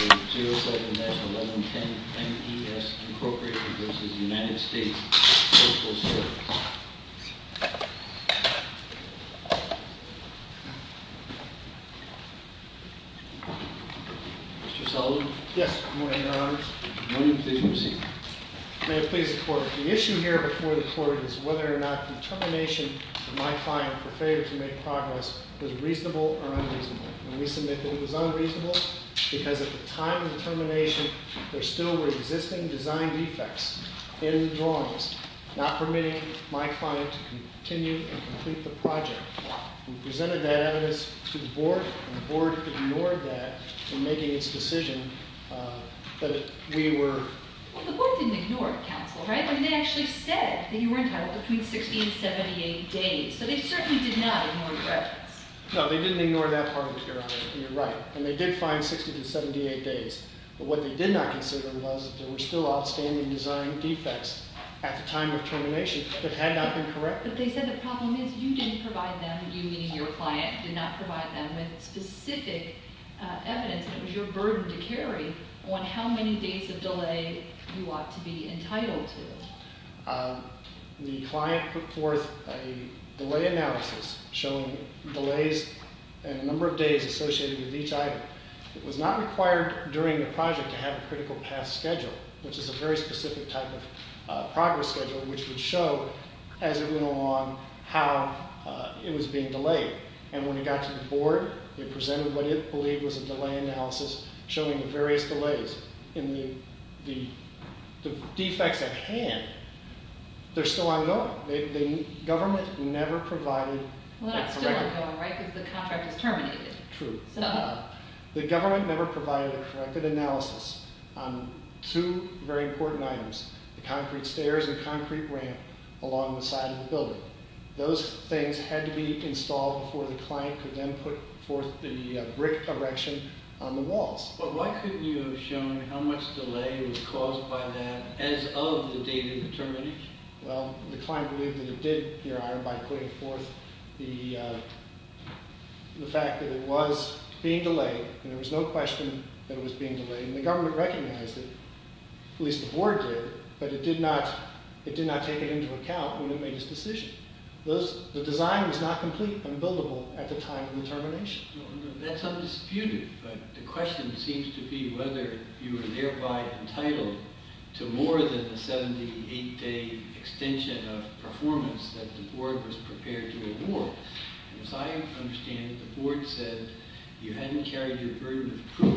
07-1110 M E S Incorporated v. United States Postal Service Mr. Sullivan? Yes, Your Honor. Your Honor, please proceed. May it please the Court, the issue here before the Court is whether or not the determination of my client for failure to make progress was reasonable or unreasonable. And we submit that it was unreasonable because at the time of the termination, there still were existing design defects in the drawings, not permitting my client to continue and complete the project. We presented that evidence to the Board, and the Board ignored that in making its decision that we were... Well, the Board didn't ignore it, counsel, right? I mean, they actually said that you were entitled between 60 and 78 days, but they certainly did not ignore your evidence. No, they didn't ignore that part of it, Your Honor. You're right. And they did find 60 to 78 days. But what they did not consider was that there were still outstanding design defects at the time of termination that had not been corrected. But they said the problem is you didn't provide them, you meaning your client, did not provide them with specific evidence. It was your burden to carry on how many days of delay you ought to be entitled to. The client put forth a delay analysis showing delays and a number of days associated with each item. It was not required during the project to have a critical path schedule, which is a very specific type of progress schedule, which would show, as it went along, how it was being delayed. And when it got to the Board, it presented what it believed was a delay analysis showing the various delays. The defects at hand, they're still ongoing. The government never provided a corrected analysis. Well, that's still ongoing, right, because the contract is terminated. True. The government never provided a corrected analysis on two very important items, the concrete stairs and concrete ramp along the side of the building. Those things had to be installed before the client could then put forth the brick erection on the walls. But why couldn't you have shown how much delay was caused by that as of the date of the termination? Well, the client believed that it did, by putting forth the fact that it was being delayed, and there was no question that it was being delayed. And the government recognized it, at least the Board did, but it did not take it into account when it made its decision. The design was not complete and buildable at the time of the termination. That's undisputed, but the question seems to be whether you were thereby entitled to more than a 78-day extension of performance that the Board was prepared to award. As I understand it, the Board said you hadn't carried your burden of proof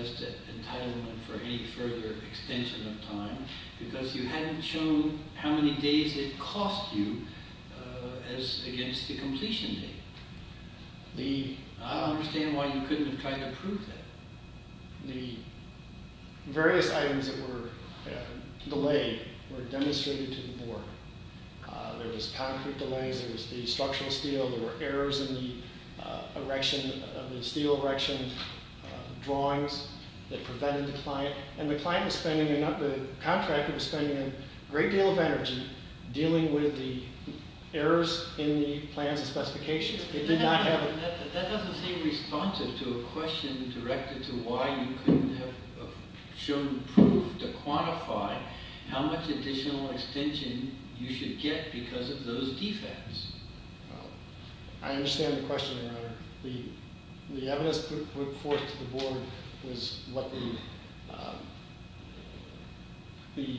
as to entitlement for any further extension of time, because you hadn't shown how many days it cost you as against the completion date. I don't understand why you couldn't have tried to prove that. The various items that were delayed were demonstrated to the Board. There was concrete delays, there was the structural steel, there were errors in the steel erection drawings that prevented the client. The contractor was spending a great deal of energy dealing with the errors in the plans and specifications. That doesn't seem responsive to a question directed to why you couldn't have shown proof to quantify how much additional extension you should get because of those defects. I understand the question, Your Honor. The evidence put forth to the Board was what the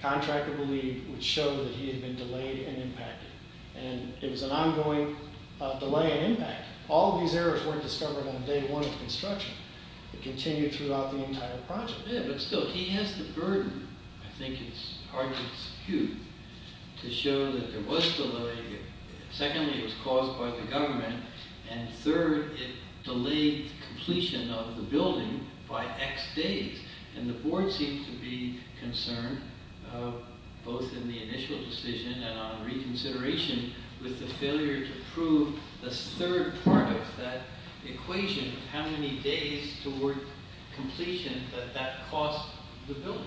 contractor believed would show that he had been delayed and impacted. It was an ongoing delay and impact. All of these errors weren't discovered on day one of construction. It continued throughout the entire project. He has the burden, I think it's hard to dispute, to show that there was delay. Secondly, it was caused by the government. Third, it delayed completion of the building by X days. The Board seemed to be concerned, both in the initial decision and on reconsideration, with the failure to prove the third part of that equation of how many days toward completion that that cost the building.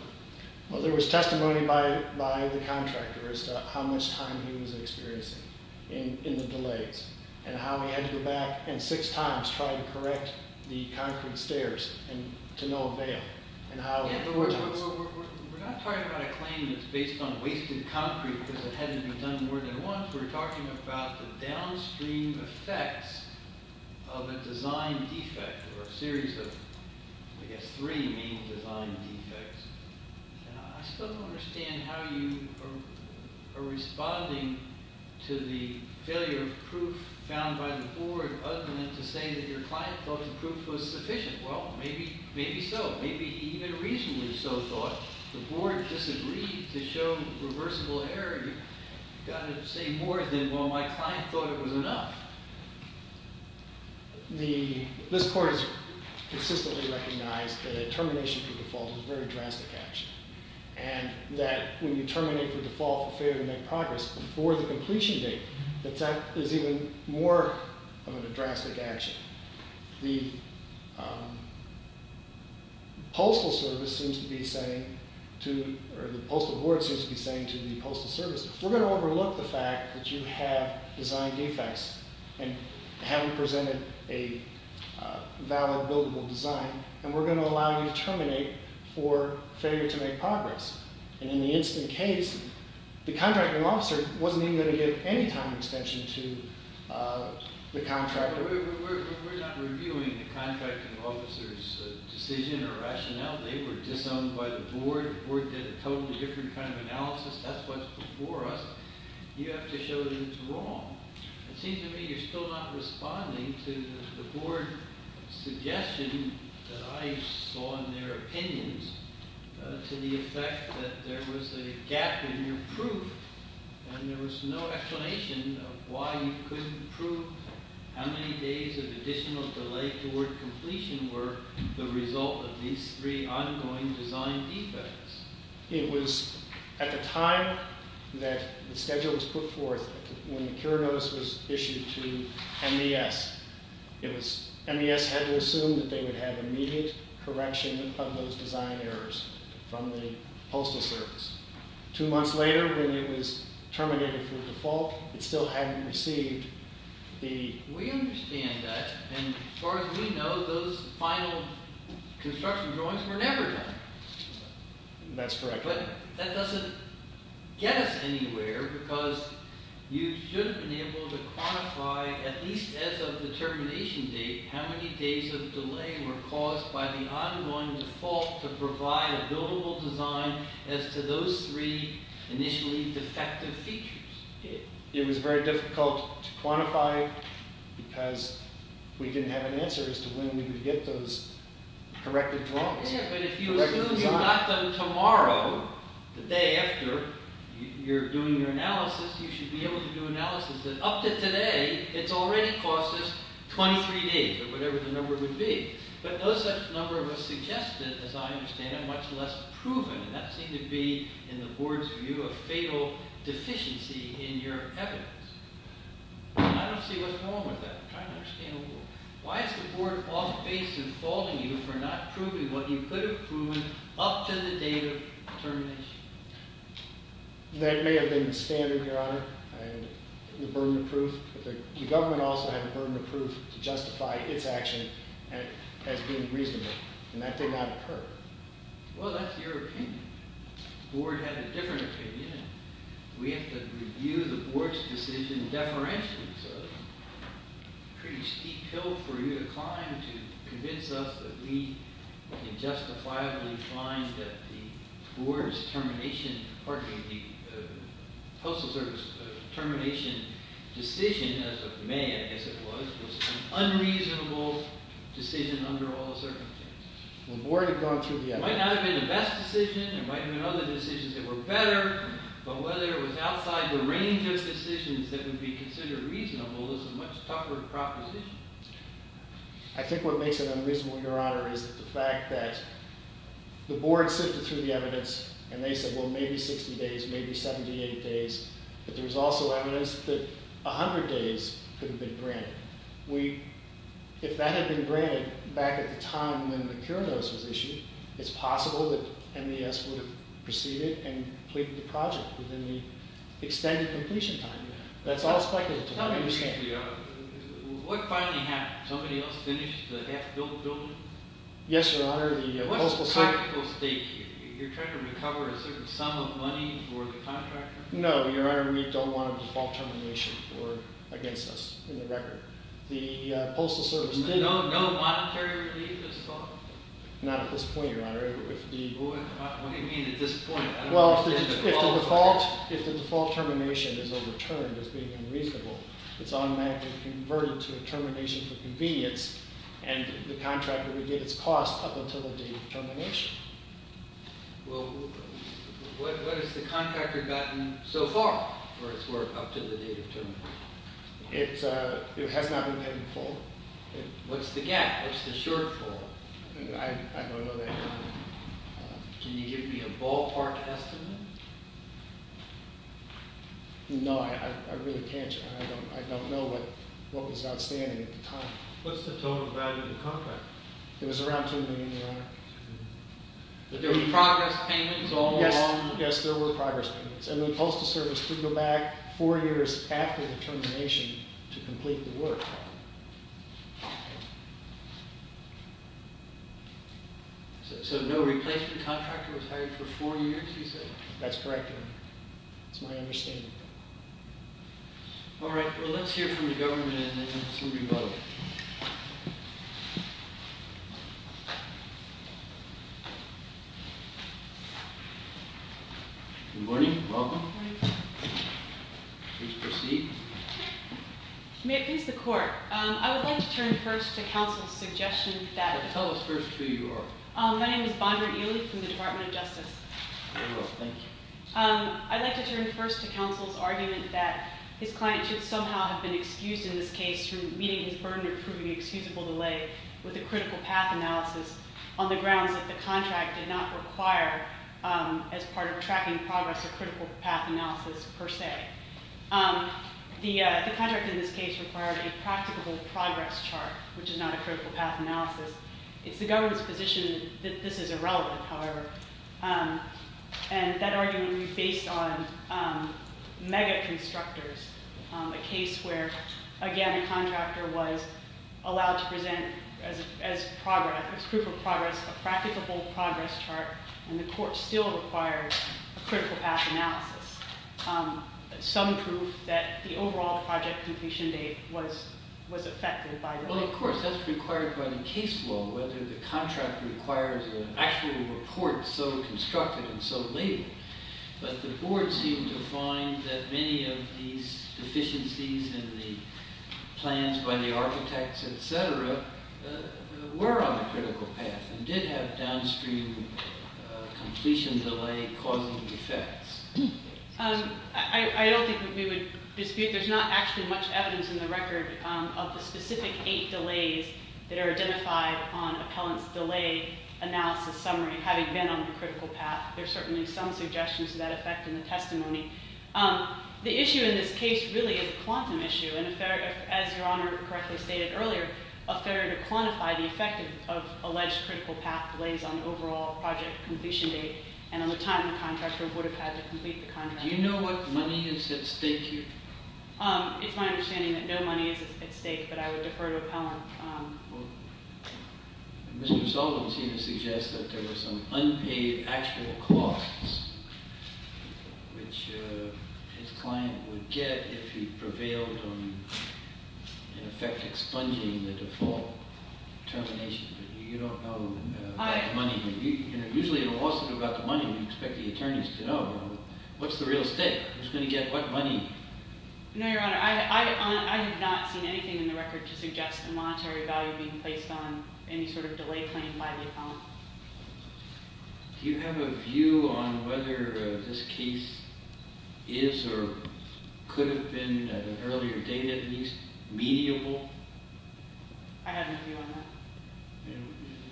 There was testimony by the contractor as to how much time he was experiencing in the delays and how he had to go back and six times try to correct the concrete stairs to no avail. We're not talking about a claim that's based on wasted concrete because it hadn't been done more than once. We're talking about the downstream effects of a design defect or a series of, I guess, three main design defects. I still don't understand how you are responding to the failure of proof found by the Board other than to say that your client thought the proof was sufficient. Well, maybe so. Maybe he even reasonably so thought. The Board disagreed to show reversible error. You've got to say more than, well, my client thought it was enough. This Court has consistently recognized that a termination for default is a very drastic action and that when you terminate for default for failure to make progress before the completion date, that that is even more of a drastic action. The Postal Board seems to be saying to the Postal Service, we're going to overlook the fact that you have design defects and haven't presented a valid buildable design and we're going to allow you to terminate for failure to make progress. In the incident case, the contracting officer wasn't even going to give any time extension to the contractor. We're not reviewing the contracting officer's decision or rationale. They were disowned by the Board. The Board did a totally different kind of analysis. That's what's before us. You have to show that it's wrong. It seems to me you're still not responding to the Board suggestion that I saw in their opinions to the effect that there was a gap in your proof and there was no explanation of why you couldn't prove how many days of additional delay toward completion were the result of these three ongoing design defects. It was at the time that the schedule was put forth when the cure notice was issued to MDS. MDS had to assume that they would have immediate correction of those design errors from the Postal Service. Two months later, when it was terminated for default, it still hadn't received the... We understand that, and as far as we know, those final construction drawings were never done. That's correct. But that doesn't get us anywhere because you should have been able to quantify, at least as of the termination date, how many days of delay were caused by the ongoing default to provide a buildable design as to those three initially defective features. It was very difficult to quantify because we didn't have an answer as to when we would get those corrected drawings. Yeah, but if you assume you got them tomorrow, the day after you're doing your analysis, you should be able to do analysis that up to today, it's already cost us 23 days or whatever the number would be. But no such number was suggested, as I understand it, much less proven. And that seemed to be, in the board's view, a fatal deficiency in your evidence. I don't see what's wrong with that. I'm trying to understand the board. Why is the board off-base in faulting you for not proving what you could have proven up to the date of termination? That may have been standard, Your Honor, the burden of proof. But the government also had a burden of proof to justify its action as being reasonable, and that did not occur. Well, that's your opinion. The board had a different opinion. We have to review the board's decision deferentially, sir. It's a pretty steep hill for you to climb to convince us that we can justifiably find that the board's termination – pardon me, the Postal Service termination decision, as of May, I guess it was, was an unreasonable decision under all the circumstances. The board had gone through the evidence. It might not have been the best decision. There might have been other decisions that were better. But whether it was outside the range of decisions that would be considered reasonable is a much tougher proposition. I think what makes it unreasonable, Your Honor, is the fact that the board sifted through the evidence, and they said, well, maybe 60 days, maybe 78 days, but there was also evidence that 100 days could have been granted. If that had been granted back at the time when the cure notice was issued, it's possible that MDS would have proceeded and completed the project within the extended completion time. That's all speculative, I understand. Tell me briefly, what finally happened? Somebody else finished the half-built building? Yes, Your Honor, the Postal Service – What's the technical stake here? You're trying to recover a certain sum of money for the contractor? No, Your Honor, we don't want a default termination against us in the record. The Postal Service – No monetary relief this fall? Not at this point, Your Honor. What do you mean at this point? Well, if the default termination is overturned as being unreasonable, it's automatically converted to a termination for convenience, and the contractor would get its cost up until the date of termination. Well, what has the contractor gotten so far for its work up to the date of termination? It has not been paid in full. What's the gap? What's the shortfall? I don't know that, Your Honor. Can you give me a ballpark estimate? No, I really can't, Your Honor. I don't know what was outstanding at the time. What's the total value of the contractor? It was around $2 million, Your Honor. But there were progress payments all along? Yes, there were progress payments, and the Postal Service couldn't go back four years after the termination to complete the work. So no replacement contractor was hired for four years, you said? That's correct, Your Honor. That's my understanding. All right. Well, let's hear from the government and then some rebuttal. Thank you. Good morning. Welcome. Good morning. Please proceed. May it please the Court, I would like to turn first to counsel's suggestion that- Well, tell us first who you are. My name is Bondra Ely from the Department of Justice. Very well. Thank you. I'd like to turn first to counsel's argument that his client should somehow have been excused in this case through meeting his burden of proving excusable delay with a critical path analysis on the grounds that the contract did not require, as part of tracking progress, a critical path analysis per se. The contract in this case required a practicable progress chart, which is not a critical path analysis. It's the government's position that this is irrelevant, however. And that argument would be based on mega-constructors, a case where, again, the contractor was allowed to present as proof of progress a practicable progress chart, and the court still required a critical path analysis. Some proof that the overall project completion date was affected by delay. Well, of course, that's required by the case law, whether the contract requires an actual report so constructed and so labeled. But the board seemed to find that many of these deficiencies in the plans by the architects, etc., were on the critical path and did have downstream completion delay causing effects. I don't think we would dispute. There's not actually much evidence in the record of the specific eight delays that are identified on appellant's delay analysis summary having been on the critical path. There's certainly some suggestions of that effect in the testimony. The issue in this case really is a quantum issue, and as Your Honor correctly stated earlier, a failure to quantify the effect of alleged critical path delays on overall project completion date and on the time the contractor would have had to complete the contract. Do you know what money is at stake here? It's my understanding that no money is at stake, but I would defer to appellant. Well, Mr. Sullivan seemed to suggest that there were some unpaid actual costs, which his client would get if he prevailed on, in effect, expunging the default termination. But you don't know about the money. Usually, you'll also know about the money when you expect the attorneys to know. What's the real estate? Who's going to get what money? No, Your Honor. I have not seen anything in the record to suggest a monetary value being placed on any sort of delay claimed by the appellant. Do you have a view on whether this case is or could have been, at an earlier date at least, mediable? I have no view on that.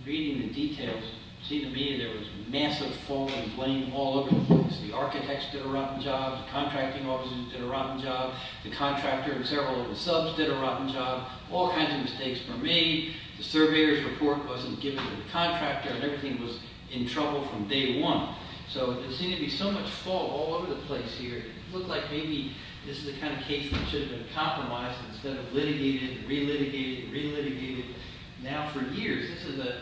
Reading the details, it seemed to me there was massive fall in blame all over the place. The architects did a rotten job. The contracting officers did a rotten job. The contractor and several of the subs did a rotten job. All kinds of mistakes were made. The surveyor's report wasn't given to the contractor, and everything was in trouble from day one. So, there seemed to be so much fall all over the place here. It looked like maybe this is the kind of case that should have been compromised instead of litigated and re-litigated and re-litigated now for years. This is a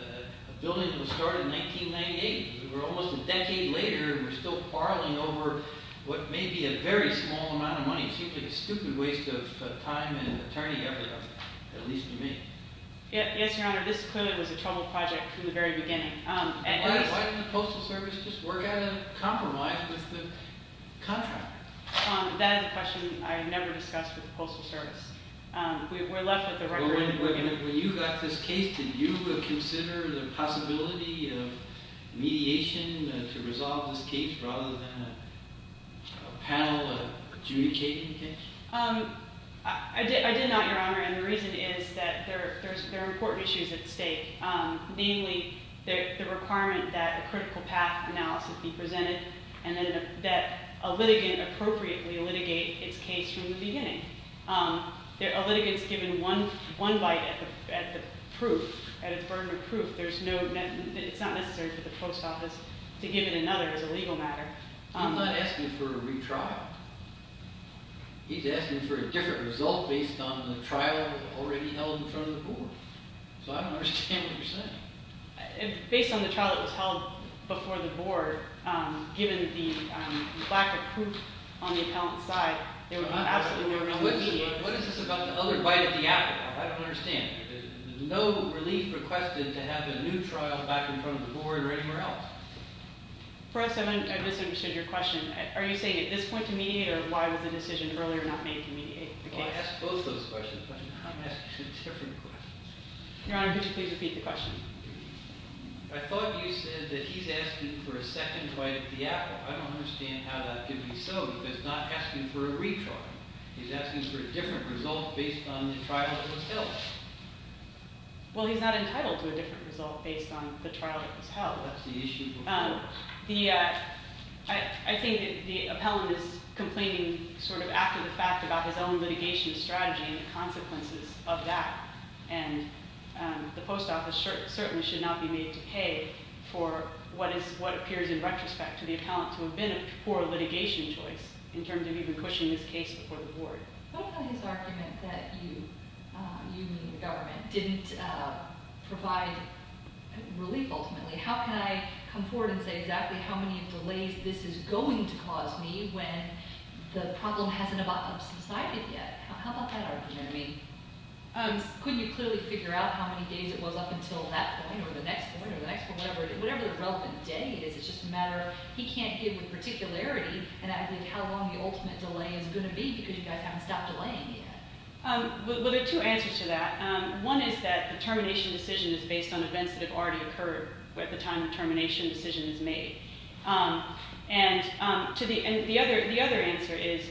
building that was started in 1998. We're almost a decade later, and we're still quarreling over what may be a very small amount of money. It seems like a stupid waste of time and attorney effort, at least to me. Yes, Your Honor. This clearly was a troubled project from the very beginning. Why didn't the Postal Service just work out a compromise with the contractor? That is a question I never discussed with the Postal Service. We're left with the record that we're given. When you got this case, did you consider the possibility of mediation to resolve this case rather than a panel adjudicating the case? I did not, Your Honor, and the reason is that there are important issues at stake, namely the requirement that a critical path analysis be presented and that a litigant appropriately litigate its case from the beginning. A litigant's given one bite at the proof, at its burden of proof. It's not necessary for the post office to give it another as a legal matter. He's not asking for a retrial. He's asking for a different result based on the trial already held in front of the board. So I don't understand what you're saying. Based on the trial that was held before the board, given the lack of proof on the appellant's side, there was absolutely no room to mediate. What is this about the other bite at the apple? I don't understand. No relief requested to have a new trial back in front of the board or anywhere else. For us, I misunderstood your question. Are you saying at this point to mediate, or why was the decision earlier not made to mediate the case? Well, I asked both those questions, but I'm asking a different question. Your Honor, could you please repeat the question? I don't understand how that could be so, because he's not asking for a retrial. He's asking for a different result based on the trial that was held. Well, he's not entitled to a different result based on the trial that was held. That's the issue. I think the appellant is complaining sort of after the fact about his own litigation strategy and the consequences of that. And the post office certainly should not be made to pay for what appears in retrospect to the appellant to have been a poor litigation choice in terms of even pushing this case before the board. What about his argument that you, you meaning the government, didn't provide relief ultimately? How can I come forward and say exactly how many delays this is going to cause me when the problem hasn't about subsided yet? How about that argument? I mean, couldn't you clearly figure out how many days it was up until that point or the next point or the next point, whatever the relevant date is? It's just a matter he can't give with particularity, and I think how long the ultimate delay is going to be because you guys haven't stopped delaying yet. Well, there are two answers to that. One is that the termination decision is based on events that have already occurred at the time the termination decision is made. And the other answer is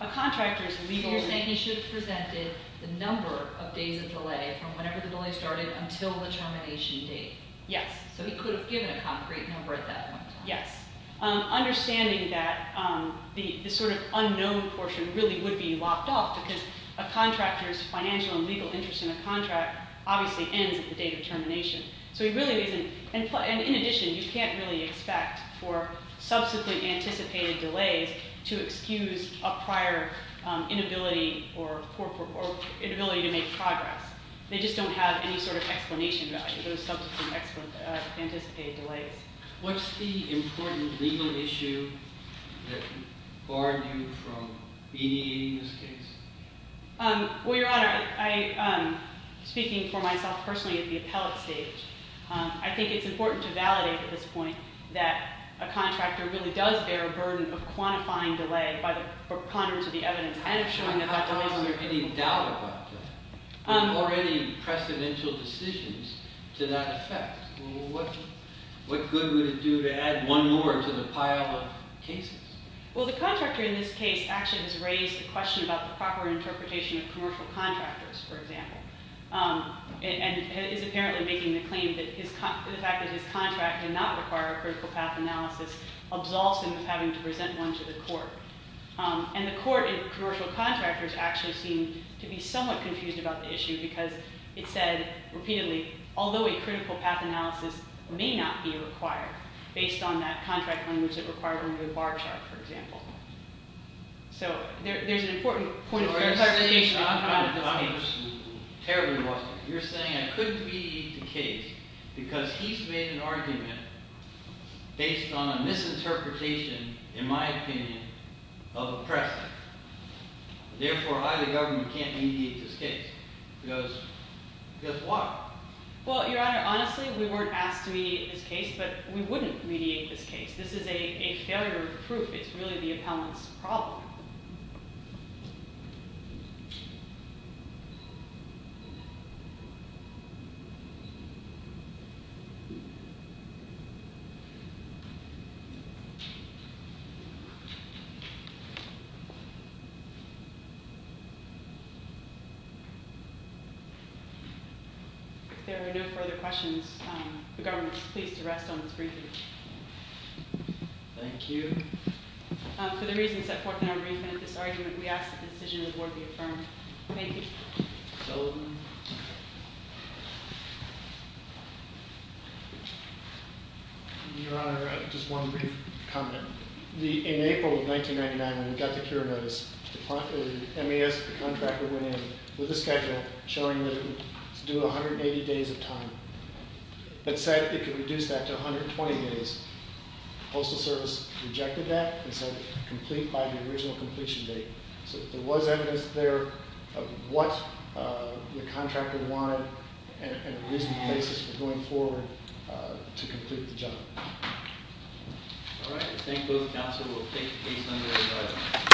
a contractor's legal... So you're saying he should have presented the number of days of delay from whenever the delay started until the termination date. Yes. So he could have given a concrete number at that point. Yes. Understanding that the sort of unknown portion really would be locked off because a contractor's financial and legal interest in a contract obviously ends at the date of termination. So he really isn't... And in addition, you can't really expect for subsequent anticipated delays to excuse a prior inability or inability to make progress. They just don't have any sort of explanation for those subsequent anticipated delays. What's the important legal issue that barred you from mediating this case? Well, Your Honor, speaking for myself personally at the appellate stage, I think it's important to validate at this point that a contractor really does bear a burden of quantifying delay by the preponderance of the evidence and of showing that that delay... I don't have any doubt about that. There are already precedential decisions to that effect. What good would it do to add one more to the pile of cases? Well, the contractor in this case actually has raised a question about the proper interpretation of commercial contractors, for example, and is apparently making the claim that the fact that his contract did not require a critical path analysis absolves him of having to present one to the court. And the court and commercial contractors actually seem to be somewhat confused about the issue because it said repeatedly, although a critical path analysis may not be required based on that contract on which it required one to do a bar chart, for example. So there's an important point of clarification. You're saying I couldn't mediate the case because he's made an argument based on a misinterpretation, in my opinion, of a precedent. Therefore, I, the government, can't mediate this case because... because why? Well, Your Honor, honestly, we weren't asked to mediate this case, but we wouldn't mediate this case. This is a failure of proof. It's really the appellant's problem. If there are no further questions, the government is pleased to rest on this briefing. Thank you. For the reasons set forth in our briefing of this argument, we ask that the decision is worthily affirmed. Thank you. Your Honor, just one brief comment. In April of 1999, when we got the cure notice, the MES contractor went in with a schedule showing that it would do 180 days of time. It said it could reduce that to 120 days. The Postal Service rejected that and said complete by the original completion date. So there was evidence there of what the contractor wanted and the reasons for going forward to complete the job. All right. I think both counsel will take the case under review.